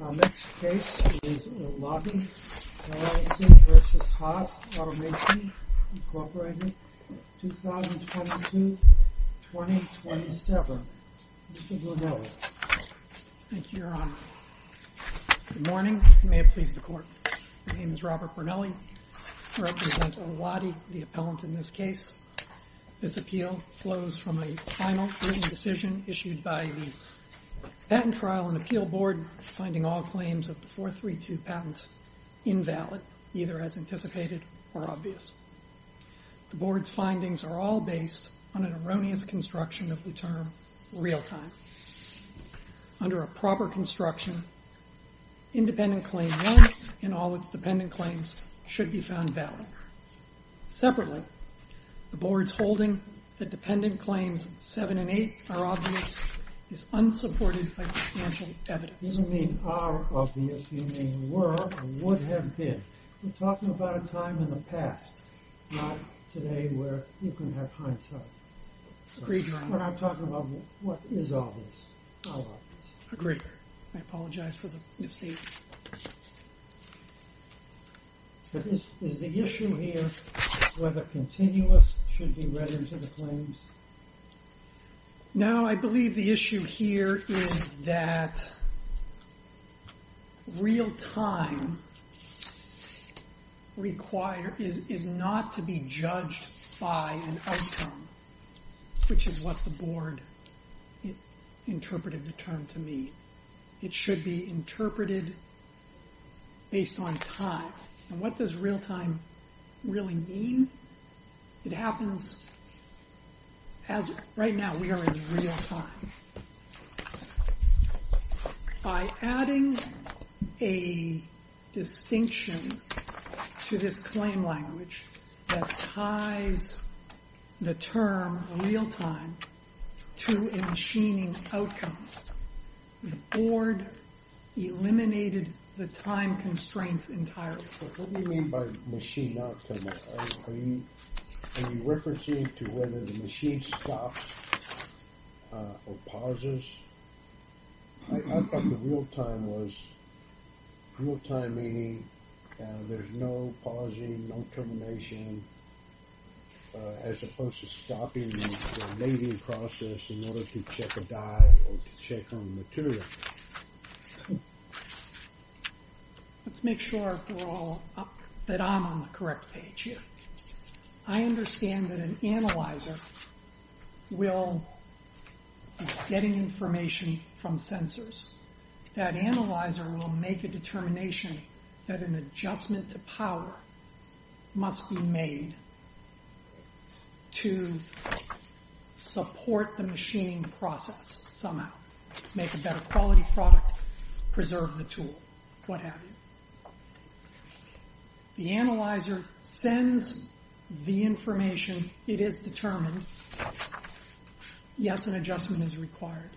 2022-2027. Mr. Brunelli. Thank you, Your Honor. Good morning. May it please the Court. My name is Robert Brunelli. I represent Olati, the appellant in this case. This appeal flows from a final written decision issued by the Patent Trial and Appeal Board, finding all claims of the 432 patent invalid, either as anticipated or obvious. The Board's findings are all based on an erroneous construction of the term real-time. Under a proper construction, independent claim one and all its dependent claims should be found valid. Separately, the Board's holding that dependent claims 7 and 8 are obvious is unsupported by substantial evidence. You don't mean are obvious, you mean were or would have been. We're talking about a time in the past, not today where you can have hindsight. Agreed, Your Honor. But I'm talking about what is obvious, how obvious. Agreed. I apologize for the mistake. Is the issue here whether continuous should be read into the claims? No, I believe the issue here is that real-time is not to be judged by an outcome, which is what the Board interpreted the term to mean. It should be interpreted based on time. And what does real-time really mean? It happens as right now we are in real-time. By adding a distinction to this claim language that ties the term real-time to a machining outcome, the Board eliminated the time constraints entirely. What do you mean by machining outcome? Are you referencing to whether the machine stops or pauses? I thought the real-time was real-time meaning there's no pausing, no termination, as opposed to stopping the mating process in order to check a die or to check on the material. Let's make sure that I'm on the correct page here. I understand that an analyzer is getting information from sensors. That analyzer will make a determination that an adjustment to power must be made to support the machining process somehow, make a better quality product, preserve the tool, what have you. The analyzer sends the information. It is determined. Yes, an adjustment is required.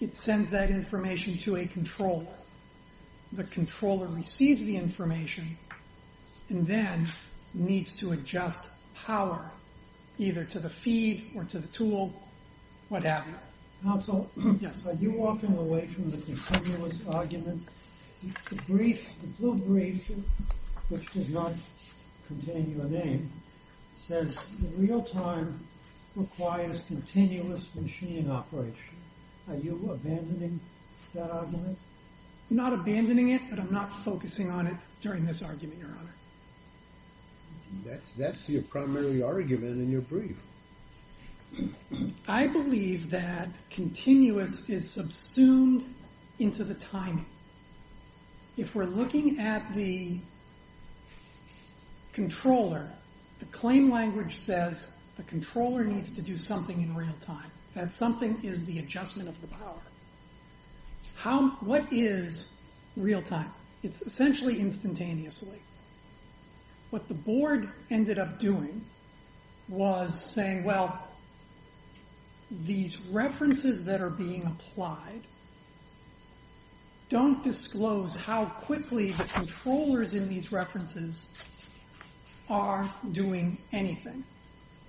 It sends that information to a controller. The controller receives the information and then needs to adjust power, either to the feed or to the tool, what have you. Counsel, are you walking away from the continuous argument? The brief, the blue brief, which does not contain your name, says the real-time requires continuous machining operation. Are you abandoning that argument? I'm not abandoning it, but I'm not focusing on it during this argument, Your Honor. That's your primary argument in your brief. I believe that continuous is subsumed into the timing. If we're looking at the controller, the claim language says the controller needs to do something in real time. That something is the adjustment of the power. What is real time? It's essentially instantaneously. What the board ended up doing was saying, well, these references that are being applied don't disclose how quickly the controllers in these references are doing anything.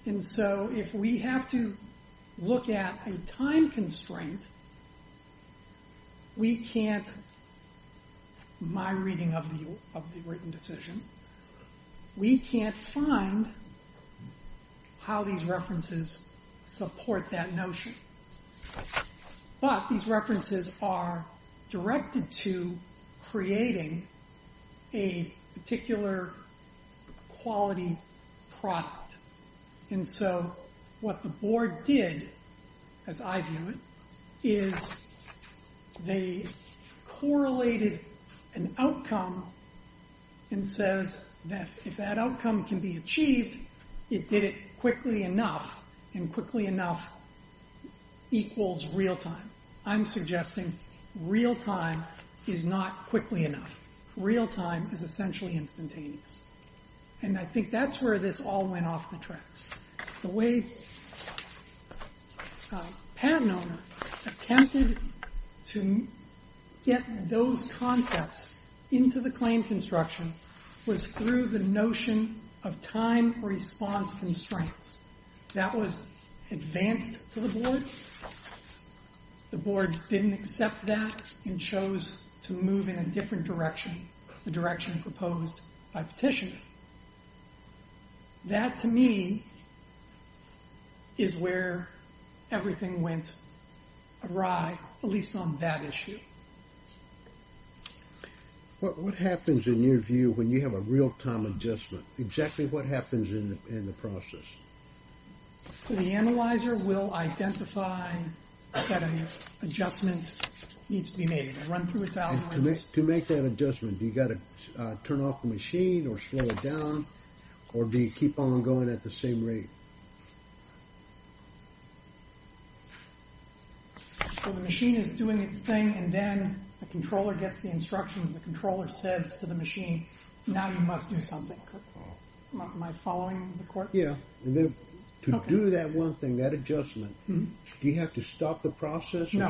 If we have to look at a time constraint, we can't, my reading of the written decision, we can't find how these references support that notion. But these references are directed to creating a particular quality product. And so what the board did, as I view it, is they correlated an outcome and says that if that outcome can be achieved, it did it quickly enough, and quickly enough equals real time. I'm suggesting real time is not quickly enough. Real time is essentially instantaneous. And I think that's where this all went off the tracks. The way Pat and I attempted to get those concepts into the claim construction was through the notion of time response constraints. That was advanced to the board. The board didn't accept that and chose to move in a different direction, the direction proposed by Petitioner. That, to me, is where everything went awry, at least on that issue. What happens, in your view, when you have a real time adjustment? Exactly what happens in the process? The analyzer will identify that an adjustment needs to be made. To make that adjustment, do you have to turn off the machine or slow it down, or do you keep on going at the same rate? The machine is doing its thing, and then the controller gets the instructions. The controller says to the machine, now you must do something. Am I following the court? Yeah. To do that one thing, that adjustment, do you have to stop the process? No.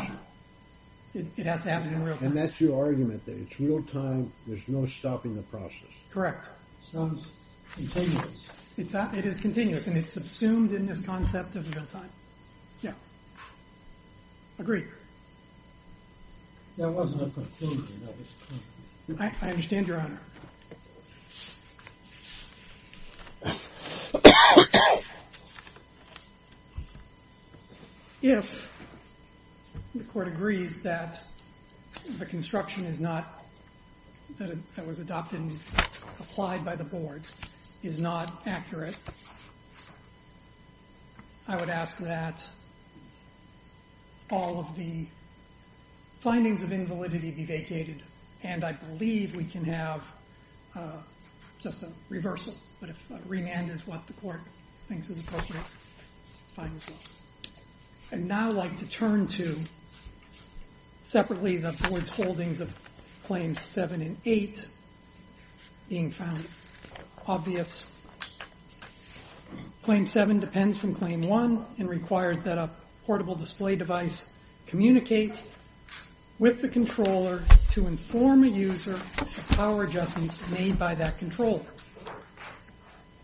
It has to happen in real time. And that's your argument, that it's real time, there's no stopping the process. Correct. Sounds continuous. It is continuous, and it's subsumed in this concept of real time. Yeah. Agree. That wasn't a conclusion. I understand, Your Honor. If the court agrees that the construction is not, that it was adopted and applied by the board, is not accurate, I would ask that all of the findings of invalidity be vacated, and I believe we can have just a reversal. But if remand is what the court thinks is appropriate, fine as well. I'd now like to turn to, separately, the board's holdings of Claims 7 and 8, being found obvious. Claim 7 depends from Claim 1 and requires that a portable display device communicate with the controller to inform a user of power adjustments made by that controller.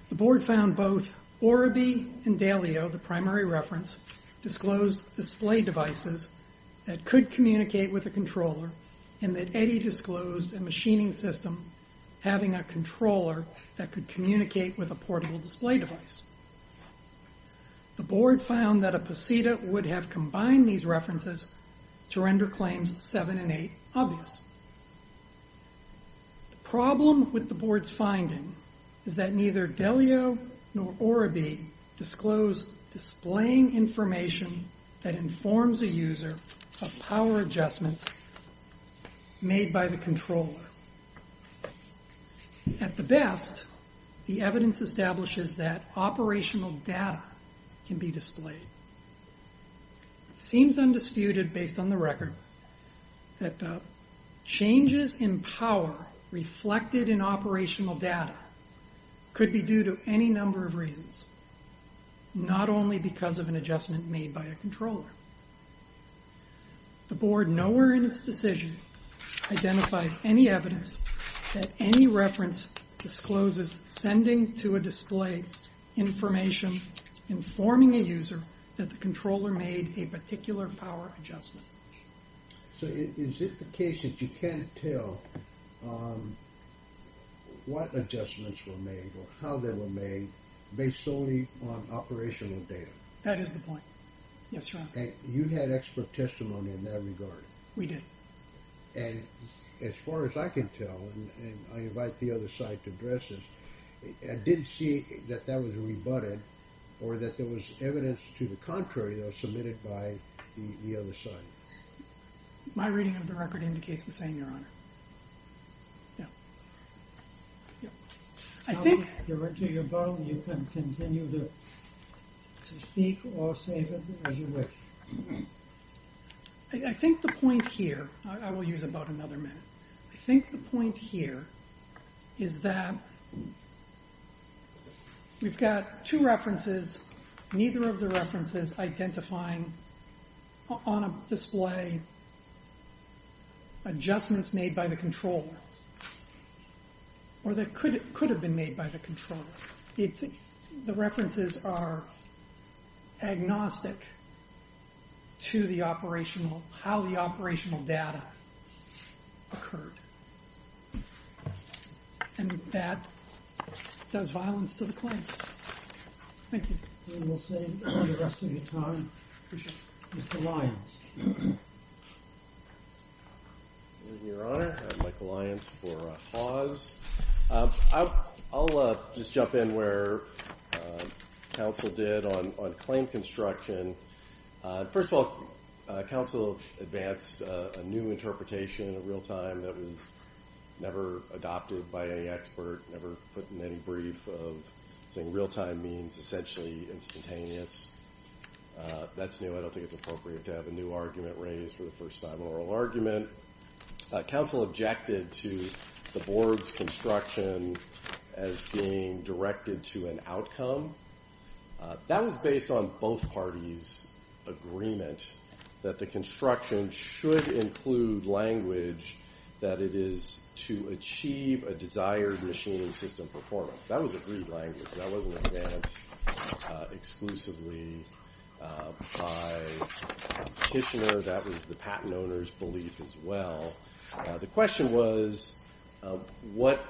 The board found both Orabee and Dalio, the primary reference, disclosed display devices that could communicate with a controller, and that Eddie disclosed a machining system having a controller that could communicate with a portable display device. The board found that a POSITA would have combined these references to render Claims 7 and 8 obvious. The problem with the board's finding is that neither Dalio nor Orabee disclosed displaying information that informs a user of power adjustments made by the controller. At the best, the evidence establishes that operational data can be displayed. It seems undisputed, based on the record, that the changes in power reflected in operational data could be due to any number of reasons, not only because of an adjustment made by a controller. The board, nowhere in its decision, identifies any evidence that any reference discloses sending to a display information informing a user that the controller made a particular power adjustment. So is it the case that you can't tell what adjustments were made or how they were made based solely on operational data? That is the point. Yes, Your Honor. You had expert testimony in that regard. We did. And as far as I can tell, and I invite the other side to address this, I didn't see that that was rebutted, or that there was evidence to the contrary that was submitted by the other side. My reading of the record indicates the same, Your Honor. Yeah. Yeah. I think... You're into your bone. You can continue to speak or save it as you wish. I think the point here, I will use about another minute, I think the point here is that we've got two references, neither of the references identifying on a display adjustments made by the controller or that could have been made by the controller. The references are agnostic to the operational, how the operational data occurred, and that does violence to the claim. Thank you. And we'll save the rest of your time for Mr. Lyons. Your Honor, I'm Michael Lyons for HAWS. I'll just jump in where counsel did on claim construction. First of all, counsel advanced a new interpretation in real time that was never adopted by any expert, never put in any brief of saying real time means essentially instantaneous. That's new. I don't think it's appropriate to have a new argument raised for the first time, an oral argument. Counsel objected to the board's construction as being directed to an outcome. That was based on both parties' agreement that the construction should include language that it is to achieve a desired machine and system performance. That was agreed language. That wasn't advanced exclusively by the petitioner. That was the patent owner's belief as well. The question was what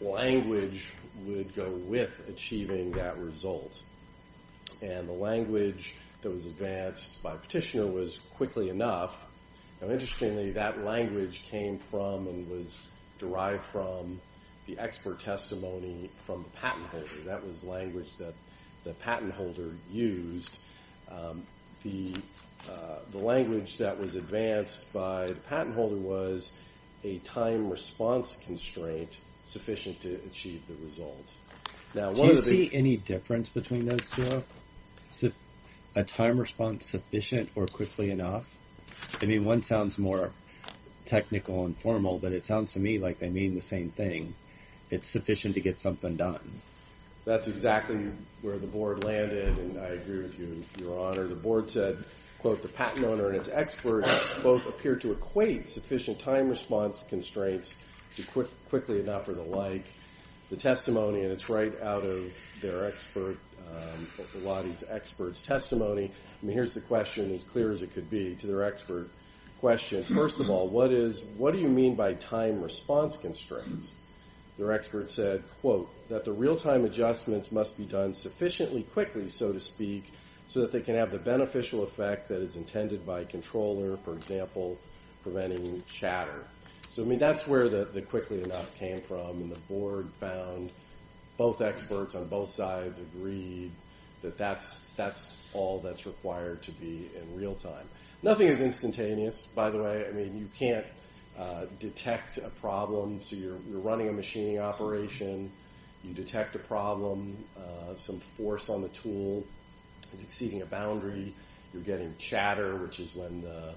language would go with achieving that result? And the language that was advanced by petitioner was quickly enough. Now, interestingly, that language came from and was derived from the expert testimony from the patent holder. That was language that the patent holder used. The language that was advanced by the patent holder was a time response constraint sufficient to achieve the results. Do you see any difference between those two? A time response sufficient or quickly enough? I mean, one sounds more technical and formal, but it sounds to me like they mean the same thing. It's sufficient to get something done. That's exactly where the board landed, and I agree with you, Your Honor. The board said, quote, the patent owner and its expert both appear to equate sufficient time response constraints to quickly enough or the like. The testimony, and it's right out of their expert, the lobby's expert's testimony. I mean, here's the question, as clear as it could be, to their expert question. First of all, what do you mean by time response constraints? Their expert said, quote, that the real-time adjustments must be done sufficiently quickly, so to speak, so that they can have the beneficial effect that is intended by a controller, for example, preventing chatter. So, I mean, that's where the quickly enough came from, and the board found both experts on both sides agreed that that's all that's required to be in real time. Nothing is instantaneous, by the way. I mean, you can't detect a problem. So you're running a machining operation. You detect a problem. Some force on the tool is exceeding a boundary. You're getting chatter, which is when the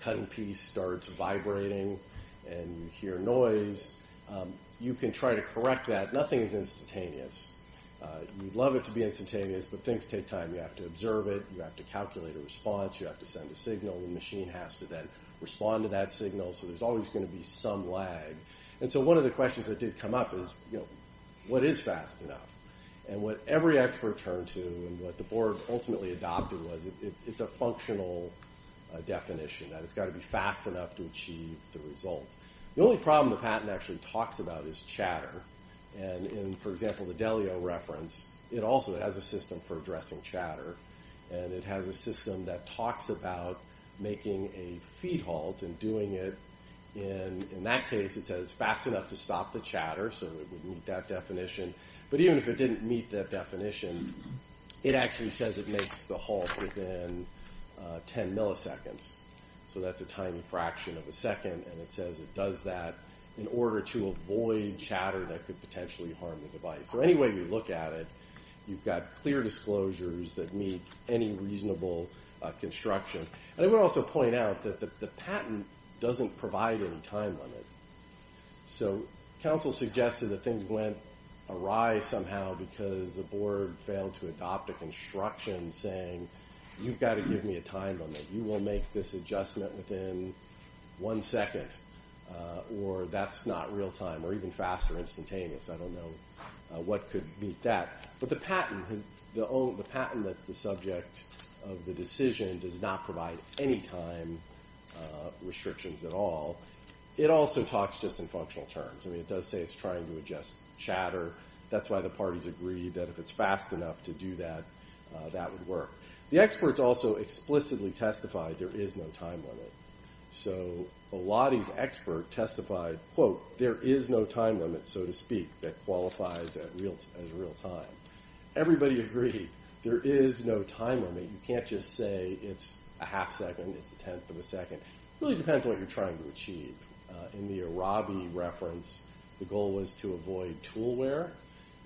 cutting piece starts vibrating, and you hear noise. You can try to correct that. Nothing is instantaneous. You'd love it to be instantaneous, but things take time. You have to observe it. You have to calculate a response. You have to send a signal. The machine has to then respond to that signal, so there's always going to be some lag. And so one of the questions that did come up is, you know, what is fast enough? And what every expert turned to and what the board ultimately adopted was it's a functional definition, that it's got to be fast enough to achieve the result. The only problem the patent actually talks about is chatter. And for example, the Delio reference, it also has a system for addressing chatter, and it has a system that talks about making a feed halt and doing it. And in that case, it says fast enough to stop the chatter, so it would meet that definition. But even if it didn't meet that definition, it actually says it makes the halt within 10 milliseconds. So that's a tiny fraction of a second. And it says it does that in order to avoid chatter that could potentially harm the device. So any way you look at it, you've got clear disclosures that meet any reasonable construction. And I want to also point out that the patent doesn't provide any time limit. So counsel suggested that things went awry somehow because the board failed to adopt a construction saying you've got to give me a time limit. You will make this adjustment within one second, or that's not real time, or even fast or instantaneous. I don't know what could meet that. But the patent that's the subject of the decision does not provide any time restrictions at all. It also talks just in functional terms. I mean, it does say it's trying to adjust chatter. That's why the parties agreed that if it's fast enough to do that, that would work. The experts also explicitly testified there is no time limit. So Eladi's expert testified, quote, there is no time limit, so to speak, that qualifies as real time. Everybody agreed there is no time limit. You can't just say it's a half second, it's a tenth of a second. It really depends on what you're trying to achieve. In the Araby reference, the goal was to avoid tool wear.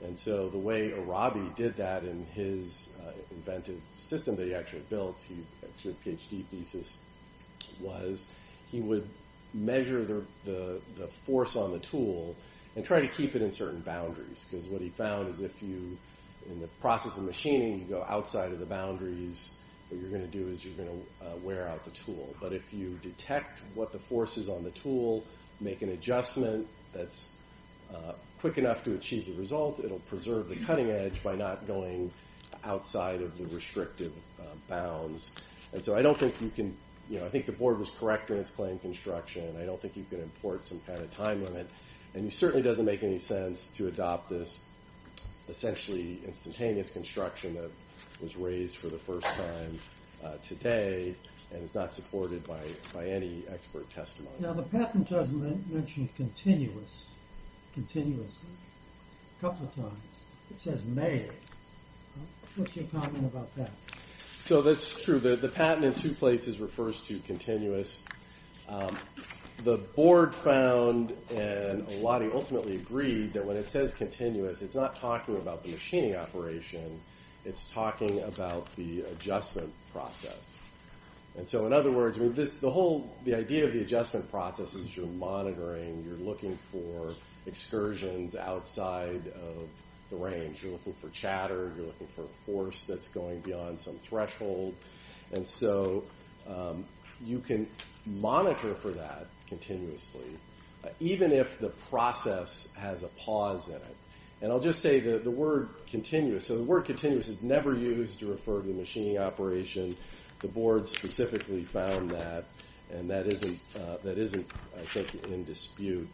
And so the way Araby did that in his inventive system that he actually built, his PhD thesis was he would measure the force on the tool and try to keep it in certain boundaries. Because what he found is if you, in the process of machining, you go outside of the boundaries, what you're going to do is you're going to wear out the tool. But if you detect what the force is on the tool, make an adjustment that's quick enough to achieve the result, it will preserve the cutting edge by not going outside of the restrictive bounds. And so I don't think you can, you know, I think the board was correct in its claim construction. I don't think you can import some kind of time limit. And it certainly doesn't make any sense to adopt this essentially instantaneous construction that was raised for the first time today and is not supported by any expert testimony. Now the patent doesn't mention continuous, continuously, a couple of times. It says made. What's your comment about that? So that's true. The patent in two places refers to continuous. The board found, and a lot of you ultimately agreed, that when it says continuous, it's not talking about the machining operation. It's talking about the adjustment process. And so in other words, the whole, the idea of the adjustment process is you're monitoring, you're looking for excursions outside of the range. You're looking for chatter, you're looking for force that's going beyond some threshold. And so you can monitor for that continuously, even if the process has a pause in it. And I'll just say the word continuous. So the word continuous is never used to refer to the machining operation. The board specifically found that, and that isn't, I think, in dispute.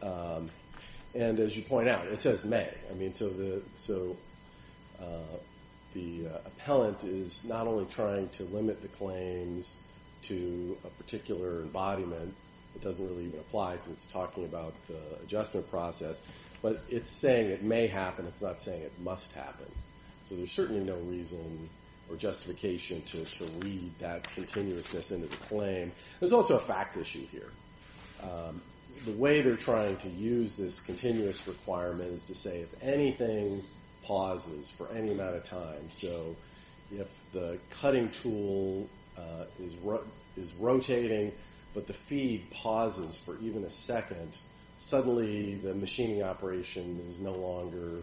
And as you point out, it says made. I mean, so the appellant is not only trying to limit the claims to a particular embodiment. It doesn't really even apply since it's talking about the adjustment process. But it's saying it may happen. It's not saying it must happen. So there's certainly no reason or justification to read that continuousness into the claim. There's also a fact issue here. The way they're trying to use this continuous requirement is to say if anything pauses for any amount of time. So if the cutting tool is rotating but the feed pauses for even a second, suddenly the machining operation is no longer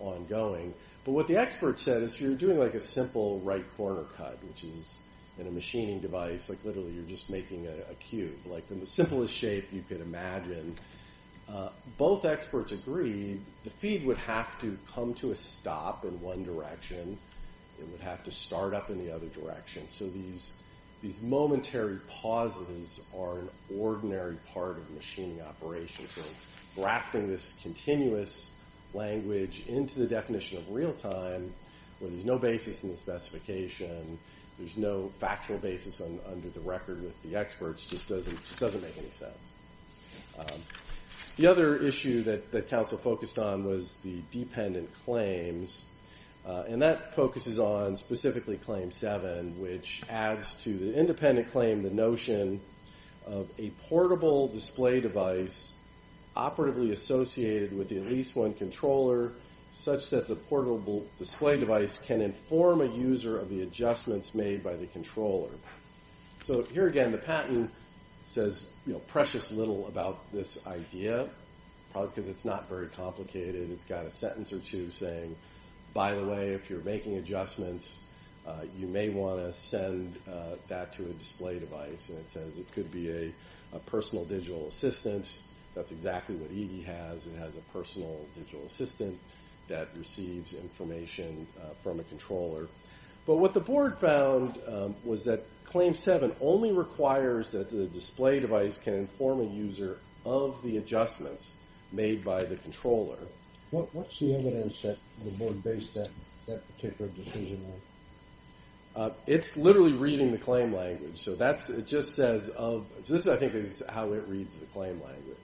ongoing. But what the expert said is you're doing like a simple right corner cut, which is in a machining device. Like literally you're just making a cube. Like in the simplest shape you could imagine. Both experts agreed the feed would have to come to a stop in one direction. It would have to start up in the other direction. So these momentary pauses are an ordinary part of machining operations. So grafting this continuous language into the definition of real time where there's no basis in the specification, there's no factual basis under the record with the experts, just doesn't make any sense. The other issue that Council focused on was the dependent claims. And that focuses on specifically Claim 7, which adds to the independent claim the notion of a portable display device operatively associated with at least one controller such that the portable display device can inform a user of the adjustments made by the controller. So here again the patent says precious little about this idea. Probably because it's not very complicated. It's got a sentence or two saying, by the way, if you're making adjustments, you may want to send that to a display device. And it says it could be a personal digital assistant. That's exactly what EDI has. It has a personal digital assistant that receives information from a controller. But what the board found was that Claim 7 only requires that the display device can inform a user of the adjustments made by the controller. What's the evidence that the board based that particular decision on? It's literally reading the claim language. So this I think is how it reads the claim language.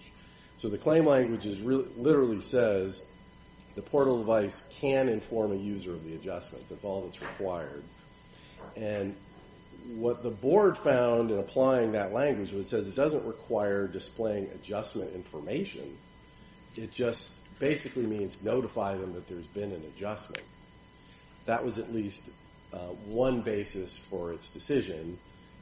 So the claim language literally says the portable device can inform a user of the adjustments. That's all that's required. And what the board found in applying that language was it says it doesn't require displaying adjustment information. It just basically means notify them that there's been an adjustment. That was at least one basis for its decision.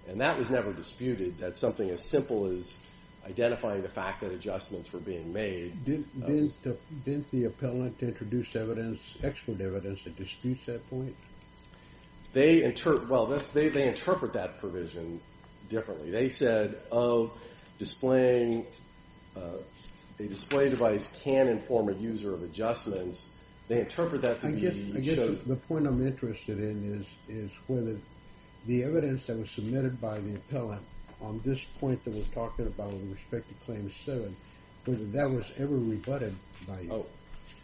And that was never disputed. That's something as simple as identifying the fact that adjustments were being made. Didn't the appellant introduce excellent evidence that disputes that point? They interpret that provision differently. They said a display device can inform a user of adjustments. They interpret that to be true. I guess the point I'm interested in is whether the evidence that was submitted by the appellant on this point that we're talking about with respect to Claim 7, whether that was ever rebutted by you.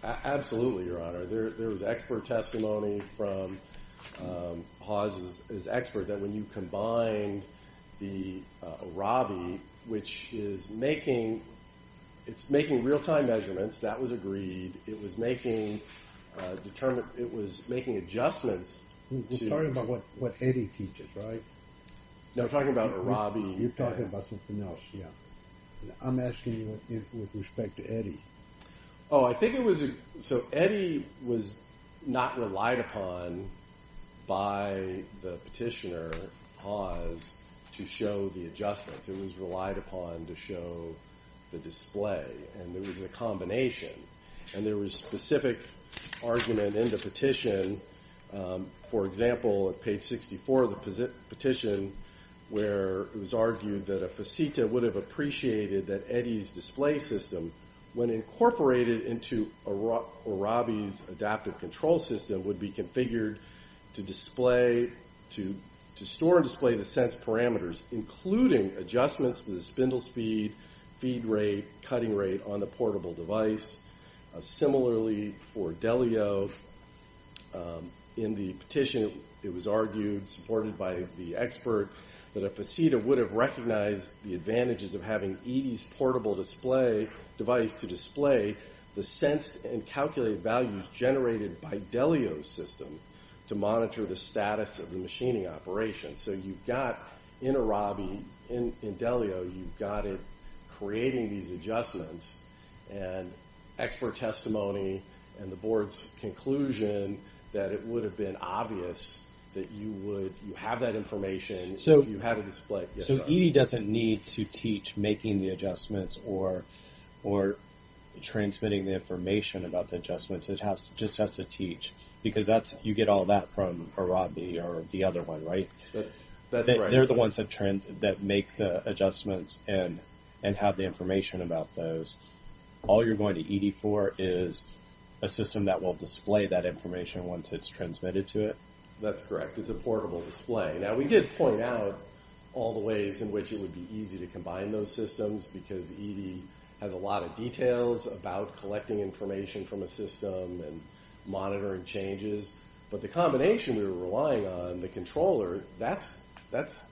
Absolutely, Your Honor. There was expert testimony from Haas's expert that when you combine the ARABI, which is making real-time measurements. That was agreed. It was making adjustments. You're talking about what Eddie teaches, right? No, I'm talking about ARABI. You're talking about something else, yeah. I'm asking you with respect to Eddie. Oh, I think it was – so Eddie was not relied upon by the petitioner, Haas, to show the adjustments. It was relied upon to show the display. And there was a combination. And there was specific argument in the petition. For example, at page 64 of the petition, where it was argued that a faceta would have appreciated that Eddie's display system, when incorporated into ARABI's adaptive control system, would be configured to store and display the sense parameters, including adjustments to the spindle speed, feed rate, cutting rate on the portable device. Similarly, for Delio, in the petition, it was argued, supported by the expert, that a faceta would have recognized the advantages of having Eddie's portable device to display the sense and calculated values generated by Delio's system to monitor the status of the machining operation. So you've got, in ARABI, in Delio, you've got it creating these adjustments. And expert testimony and the board's conclusion that it would have been obvious that you would – you have that information, you have a display. So Eddie doesn't need to teach making the adjustments or transmitting the information about the adjustments. It just has to teach. Because that's – you get all that from ARABI or the other one, right? That's right. They're the ones that make the adjustments and have the information about those. All you're going to ED for is a system that will display that information once it's transmitted to it. That's correct. It's a portable display. Now, we did point out all the ways in which it would be easy to combine those systems, because ED has a lot of details about collecting information from a system and monitoring changes. But the combination we were relying on, the controller, that's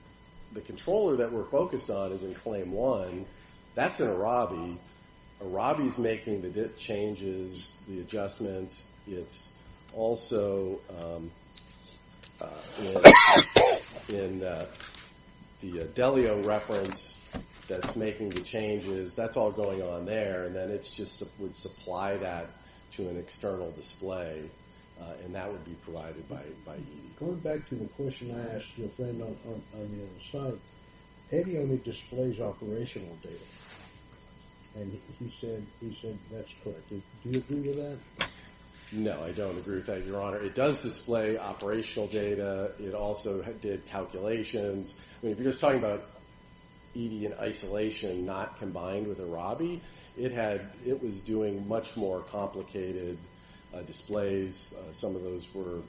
– the controller that we're focused on is in CLAIM-1. That's in ARABI. ARABI's making the changes, the adjustments. It's also in the Delio reference that's making the changes. That's all going on there. And then it just would supply that to an external display. And that would be provided by ED. Going back to the question I asked your friend on the other side, ED only displays operational data. And he said that's correct. Do you agree with that? No, I don't agree with that, Your Honor. It does display operational data. It also did calculations. I mean, if you're just talking about ED in isolation, not combined with ARABI, it was doing much more complicated displays. Some of those were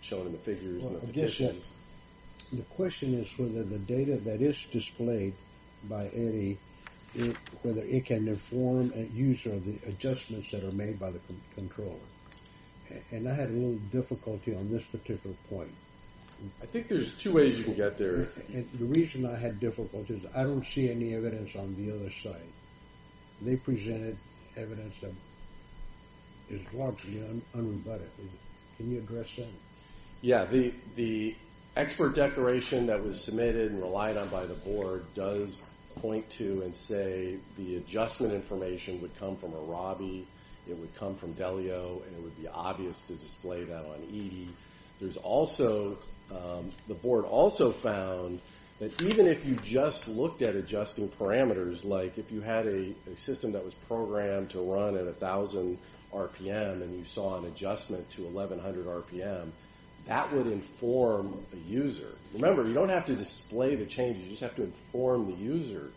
shown in the figures and the petitions. The question is whether the data that is displayed by ED, whether it can inform a user of the adjustments that are made by the controller. And I had a little difficulty on this particular point. I think there's two ways you can get there. The reason I had difficulty is I don't see any evidence on the other side. They presented evidence that is largely unrebutted. Can you address that? Yeah, the expert declaration that was submitted and relied on by the board does point to and say the adjustment information would come from ARABI, it would come from Delio, and it would be obvious to display that on ED. The board also found that even if you just looked at adjusting parameters, like if you had a system that was programmed to run at 1,000 RPM and you saw an adjustment to 1,100 RPM, that would inform a user. Remember, you don't have to display the changes. You just have to inform the user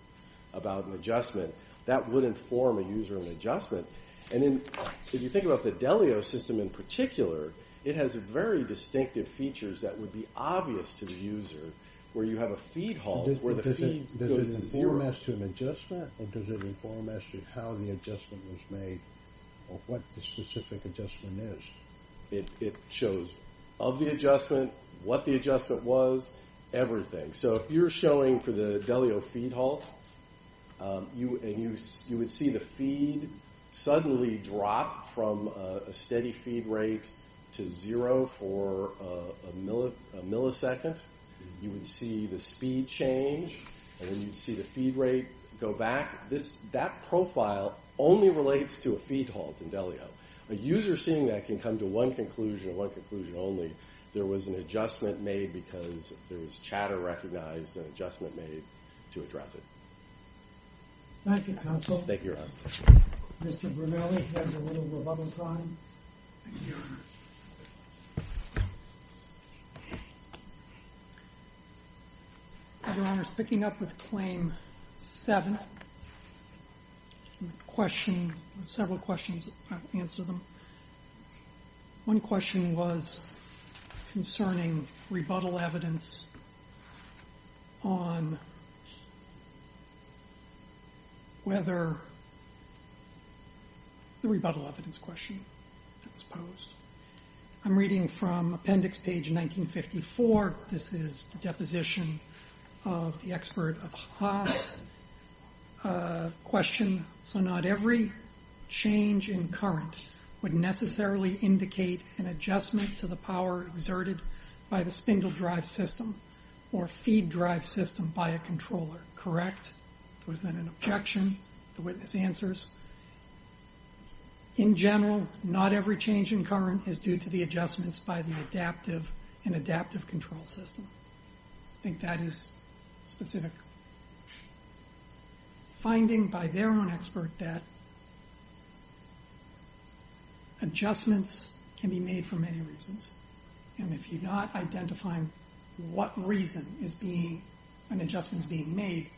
about an adjustment. That would inform a user of an adjustment. If you think about the Delio system in particular, it has very distinctive features that would be obvious to the user, where you have a feed halt where the feed goes to zero. Does it inform as to an adjustment, or does it inform as to how the adjustment was made or what the specific adjustment is? It shows of the adjustment, what the adjustment was, everything. If you're showing for the Delio feed halt, you would see the feed suddenly drop from a steady feed rate to zero for a millisecond. You would see the speed change, and then you'd see the feed rate go back. That profile only relates to a feed halt in Delio. A user seeing that can come to one conclusion or one conclusion only, there was an adjustment made because there was chatter recognized and an adjustment made to address it. Thank you, counsel. Thank you, Your Honor. Mr. Brunelli has a little rebuttal time. Thank you, Your Honor. Your Honor, speaking up with Claim 7, several questions, I'll answer them. One question was concerning rebuttal evidence on whether the rebuttal evidence question was posed. I'm reading from appendix page 1954. This is the deposition of the expert of Haas' question. So not every change in current would necessarily indicate an adjustment to the power exerted by the spindle drive system or feed drive system by a controller, correct? Was that an objection? The witness answers. In general, not every change in current is due to the adjustments by the adaptive and adaptive control system. I think that is specific. Finding by their own expert that adjustments can be made for many reasons, and if you're not identifying what reason an adjustment is being made,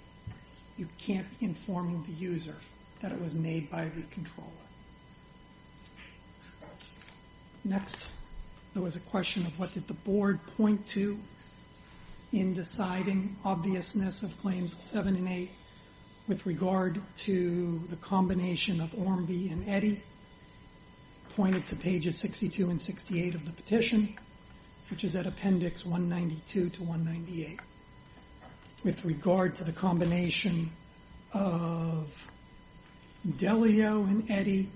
you can't inform the user that it was made by the controller. Next, there was a question of what did the board point to in deciding obviousness of claims 7 and 8 with regard to the combination of Ormby and Eddy, pointed to pages 62 and 68 of the petition, which is at appendix 192 to 198. With regard to the combination of Delio and Eddy,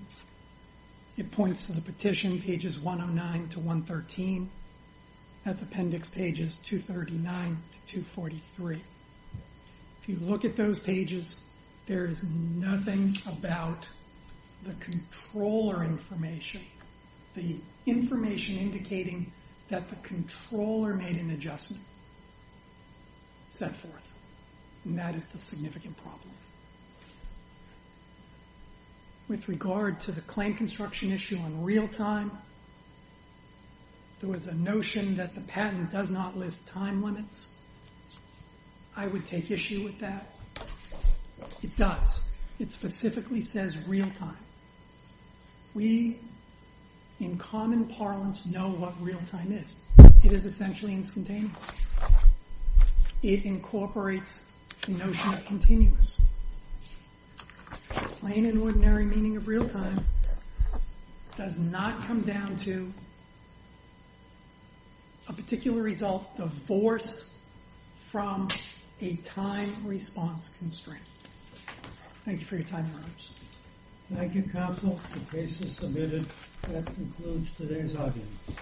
it points to the petition, pages 109 to 113. That's appendix pages 239 to 243. If you look at those pages, there is nothing about the controller information. The information indicating that the controller made an adjustment set forth, and that is the significant problem. With regard to the claim construction issue in real time, there was a notion that the patent does not list time limits. I would take issue with that. It does. It specifically says real time. We, in common parlance, know what real time is. It is essentially instantaneous. It incorporates the notion of continuous. The plain and ordinary meaning of real time does not come down to a particular result divorced from a time response constraint. Thank you for your time. Thank you, counsel. The case is submitted. That concludes today's audience.